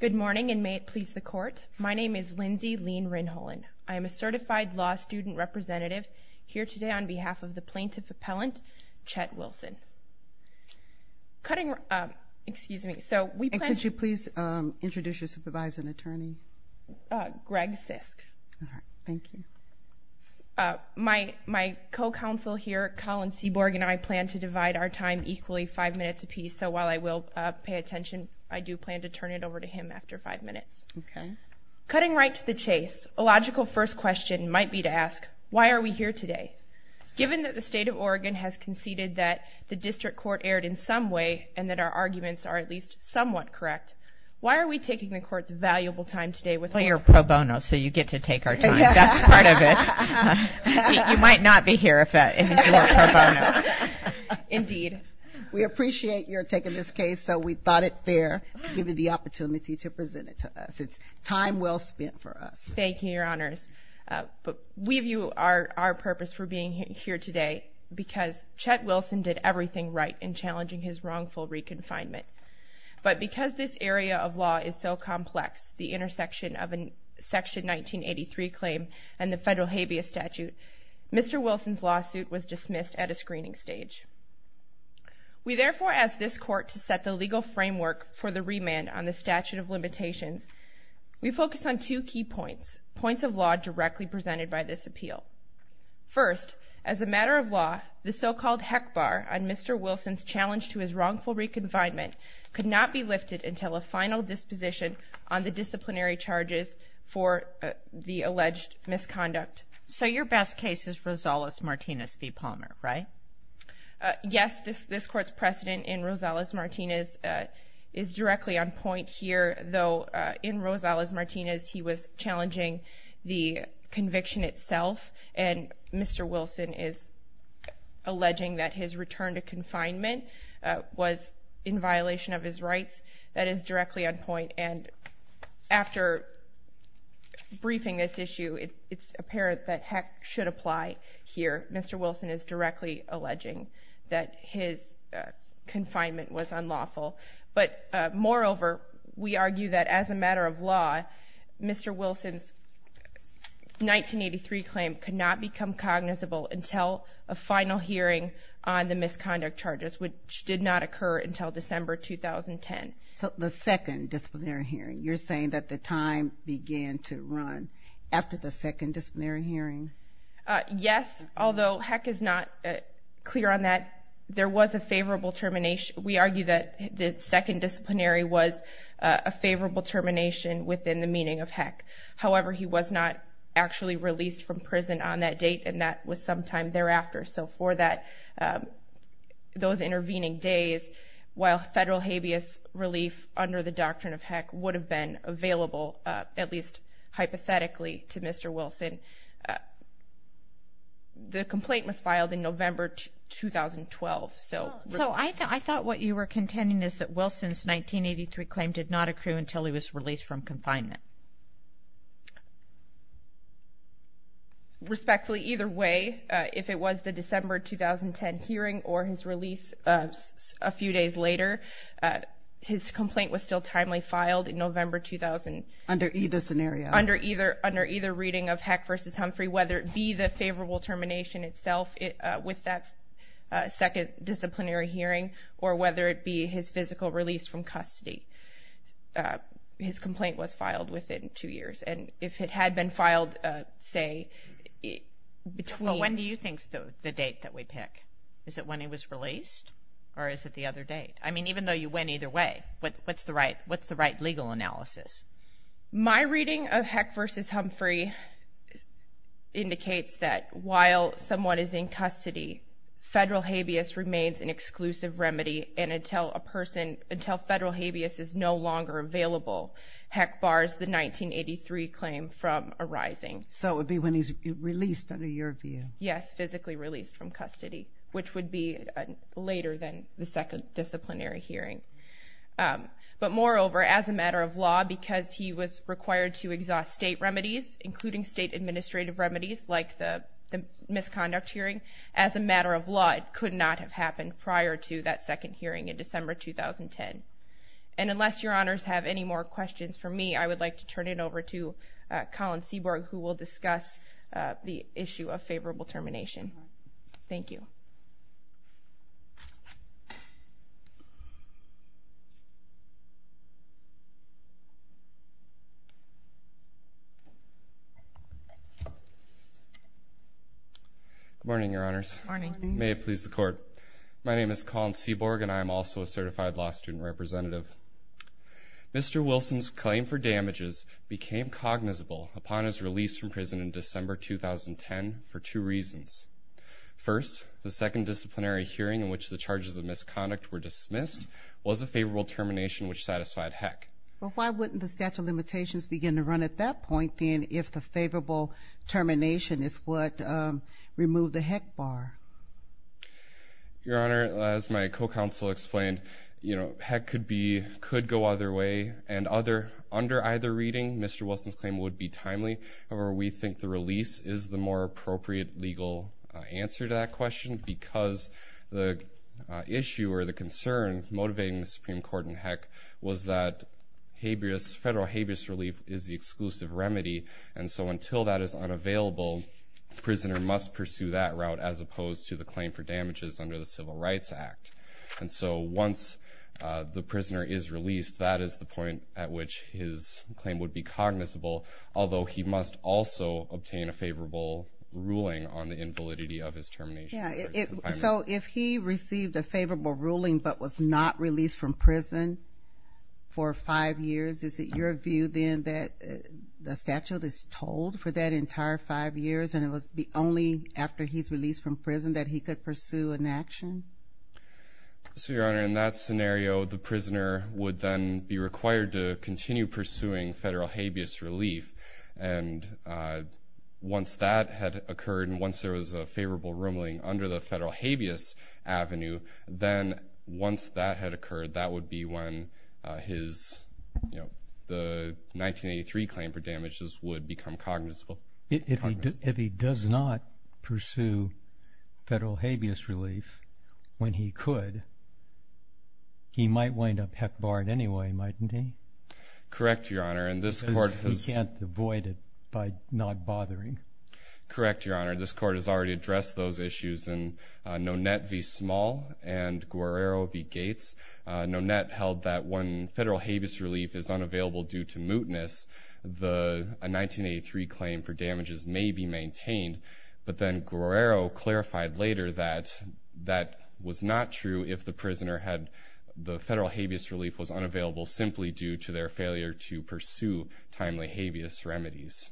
Good morning and may it please the court. My name is Lindsay Lean Rinholen. I am a certified law student representative here today on behalf of the plaintiff appellant Chet Wilson. Cutting, excuse me, so we, could you please introduce your supervisor and attorney? Greg Sisk. Thank you. My co-counsel here, Colin Seaborg, and I plan to divide our time equally five minutes apiece, so while I will pay attention, I do plan to turn it over to him after five minutes. Okay. Cutting right to the chase, a logical first question might be to ask, why are we here today? Given that the state of Oregon has conceded that the district court erred in some way and that our arguments are at least somewhat correct, why are we taking the court's valuable time today with all your pro bono, so you get to take our time, that's part of it. You might not be here if that isn't your pro bono. Indeed. We thought it fair to give you the opportunity to present it to us. It's time well spent for us. Thank you, Your Honors. We view our purpose for being here today because Chet Wilson did everything right in challenging his wrongful re-confinement, but because this area of law is so complex, the intersection of a section 1983 claim and the federal habeas statute, Mr. Wilson's lawsuit was dismissed at a screening stage. We therefore ask this court to set the legal framework for the remand on the statute of limitations. We focus on two key points, points of law directly presented by this appeal. First, as a matter of law, the so-called heck bar on Mr. Wilson's challenge to his wrongful re-confinement could not be lifted until a final disposition on the disciplinary charges for the alleged misconduct. So your best case is Rosales-Martinez v. Rosales-Martinez is directly on point here, though in Rosales-Martinez, he was challenging the conviction itself, and Mr. Wilson is alleging that his return to confinement was in violation of his rights. That is directly on point, and after briefing this issue, it's apparent that heck should apply here. Mr. Wilson is directly alleging that his confinement was unlawful, but moreover, we argue that as a matter of law, Mr. Wilson's 1983 claim could not become cognizable until a final hearing on the misconduct charges, which did not occur until December 2010. So the second disciplinary hearing, you're saying that the time began to run after the second disciplinary hearing? Yes, although heck is not clear on that, there was a favorable termination. We argue that the second disciplinary was a favorable termination within the meaning of heck. However, he was not actually released from prison on that date, and that was sometime thereafter. So for those intervening days, while federal habeas relief under the doctrine of heck would have been available, at least in November 2012. So I thought what you were contending is that Wilson's 1983 claim did not occur until he was released from confinement. Respectfully, either way, if it was the December 2010 hearing or his release a few days later, his complaint was still timely filed in November 2000. Under either scenario? Under either reading of heck versus Humphrey, whether it be the favorable termination itself with that second disciplinary hearing, or whether it be his physical release from custody, his complaint was filed within two years. And if it had been filed, say, between when do you think the date that we pick? Is it when he was released? Or is it the other date? I mean, even though you went either way, what's the right? What's the right legal analysis? My reading of heck versus Humphrey indicates that while someone is in custody, federal habeas remains an exclusive remedy. And until a person, until federal habeas is no longer available, heck bars the 1983 claim from arising. So it would be when he's released under your view? Yes, physically released from custody, which would be later than the second disciplinary hearing. But moreover, as a matter of law, because he was required to exhaust state remedies, including state administrative remedies, like the misconduct hearing, as a matter of law, it could not have happened prior to that second hearing in December 2010. And unless your honors have any more questions for me, I would like to turn it over to Colin Seaborg, who will discuss the issue of favorable termination. Thank you. Good morning, your honors. Good morning. May it please the court. My name is Colin Seaborg, and I'm also a certified law student representative. Mr. Wilson's claim for damages became cognizable upon his release from prison in December 2010 for two reasons. First, the second disciplinary hearing in which the charges of misconduct were dismissed was a favorable termination, which satisfied heck. But why wouldn't the statute of limitations begin to point, then, if the favorable termination is what removed the heck bar? Your honor, as my co-counsel explained, heck could go either way. And under either reading, Mr. Wilson's claim would be timely. However, we think the release is the more appropriate legal answer to that question because the issue or the concern motivating the Supreme Court in heck was that federal habeas relief is the exclusive remedy. And so until that is unavailable, the prisoner must pursue that route as opposed to the claim for damages under the Civil Rights Act. And so once the prisoner is released, that is the point at which his claim would be cognizable, although he must also obtain a favorable ruling on the invalidity of his termination. Yeah. So if he received a favorable ruling but was not released from prison, for five years, is it your view, then, that the statute is told for that entire five years and it was only after he's released from prison that he could pursue an action? So, your honor, in that scenario, the prisoner would then be required to continue pursuing federal habeas relief. And once that had occurred and once there was a favorable ruling under the federal habeas avenue, then once that had occurred, that would be when his, you know, the 1983 claim for damages would become cognizable. If he does not pursue federal habeas relief when he could, he might wind up heck barred anyway, mightn't he? Correct, your honor. And this court has... Because he can't avoid it by not bothering. Correct, your honor. This court has already addressed those issues in Nonet v. Gates. Nonet held that when federal habeas relief is unavailable due to mootness, a 1983 claim for damages may be maintained. But then Guerrero clarified later that that was not true if the prisoner had the federal habeas relief was unavailable simply due to their failure to pursue timely habeas remedies.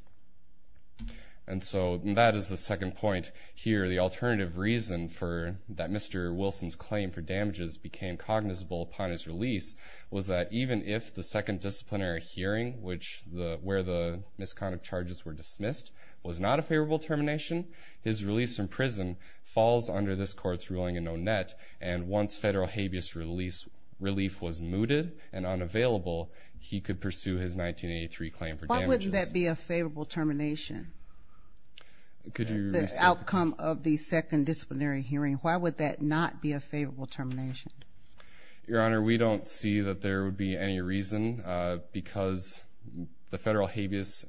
And so that is the second point here. The alternative reason for that Mr. Wilson's claim for damages became cognizable upon his release was that even if the second disciplinary hearing which the, where the misconduct charges were dismissed, was not a favorable termination, his release from prison falls under this court's ruling in Nonet and once federal habeas relief was mooted and unavailable, he could pursue his 1983 claim for damages. Why wouldn't that be a favorable termination? Could you... The outcome of the second disciplinary hearing, why would that not be a favorable termination? Your honor, we don't see that there would be any reason because the federal habeas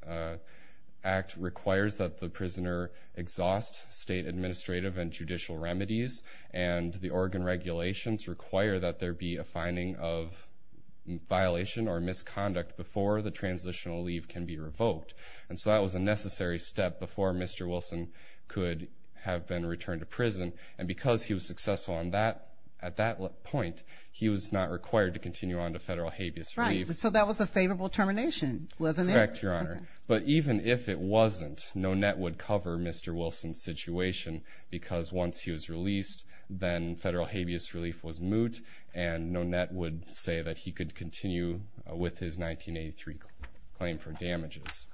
act requires that the prisoner exhaust state administrative and judicial remedies and the Oregon regulations require that there be a finding of violation or misconduct before the transitional leave can be revoked. And so that was a necessary step before Mr. Wilson could have been returned to prison. And because he was successful on that, at that point, he was not required to continue on to federal habeas relief. So that was a favorable termination, wasn't it? Correct, your honor. But even if it wasn't, Nonet would cover Mr. Wilson's situation because once he was released, then federal habeas relief was moot and Nonet would say that he could continue with his 1983 claim for damages.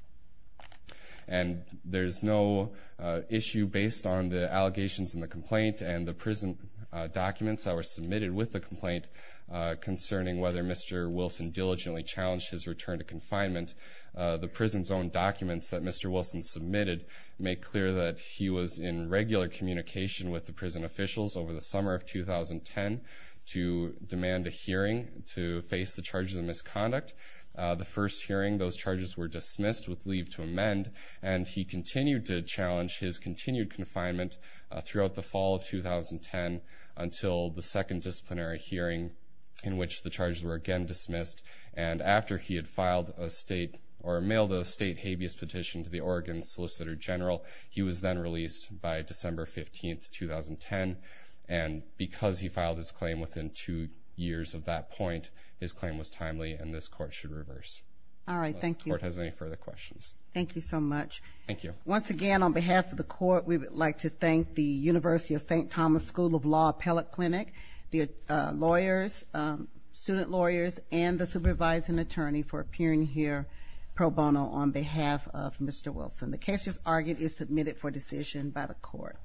And there's no issue based on the allegations in the complaint and the prison documents that were submitted with the complaint concerning whether Mr. Wilson diligently challenged his return to confinement. The prison's own documents that Mr. Wilson submitted make clear that he was in regular communication with the prison officials over the summer of 2010 to face the charges of misconduct. The first hearing, those charges were dismissed with leave to amend and he continued to challenge his continued confinement throughout the fall of 2010 until the second disciplinary hearing in which the charges were again dismissed. And after he had filed a state or mailed a state habeas petition to the Oregon Solicitor General, he was then released by December 15th, 2010. And because he filed his claim within two years of that point, his claim was timely and this court should reverse. All right, thank you. If the court has any further questions. Thank you so much. Thank you. Once again, on behalf of the court, we would like to thank the University of St. Thomas School of Law Appellate Clinic, the lawyers, student lawyers, and the supervising attorney for appearing here pro bono on behalf of Mr. Wilson. The case as argued is submitted for decision by the court.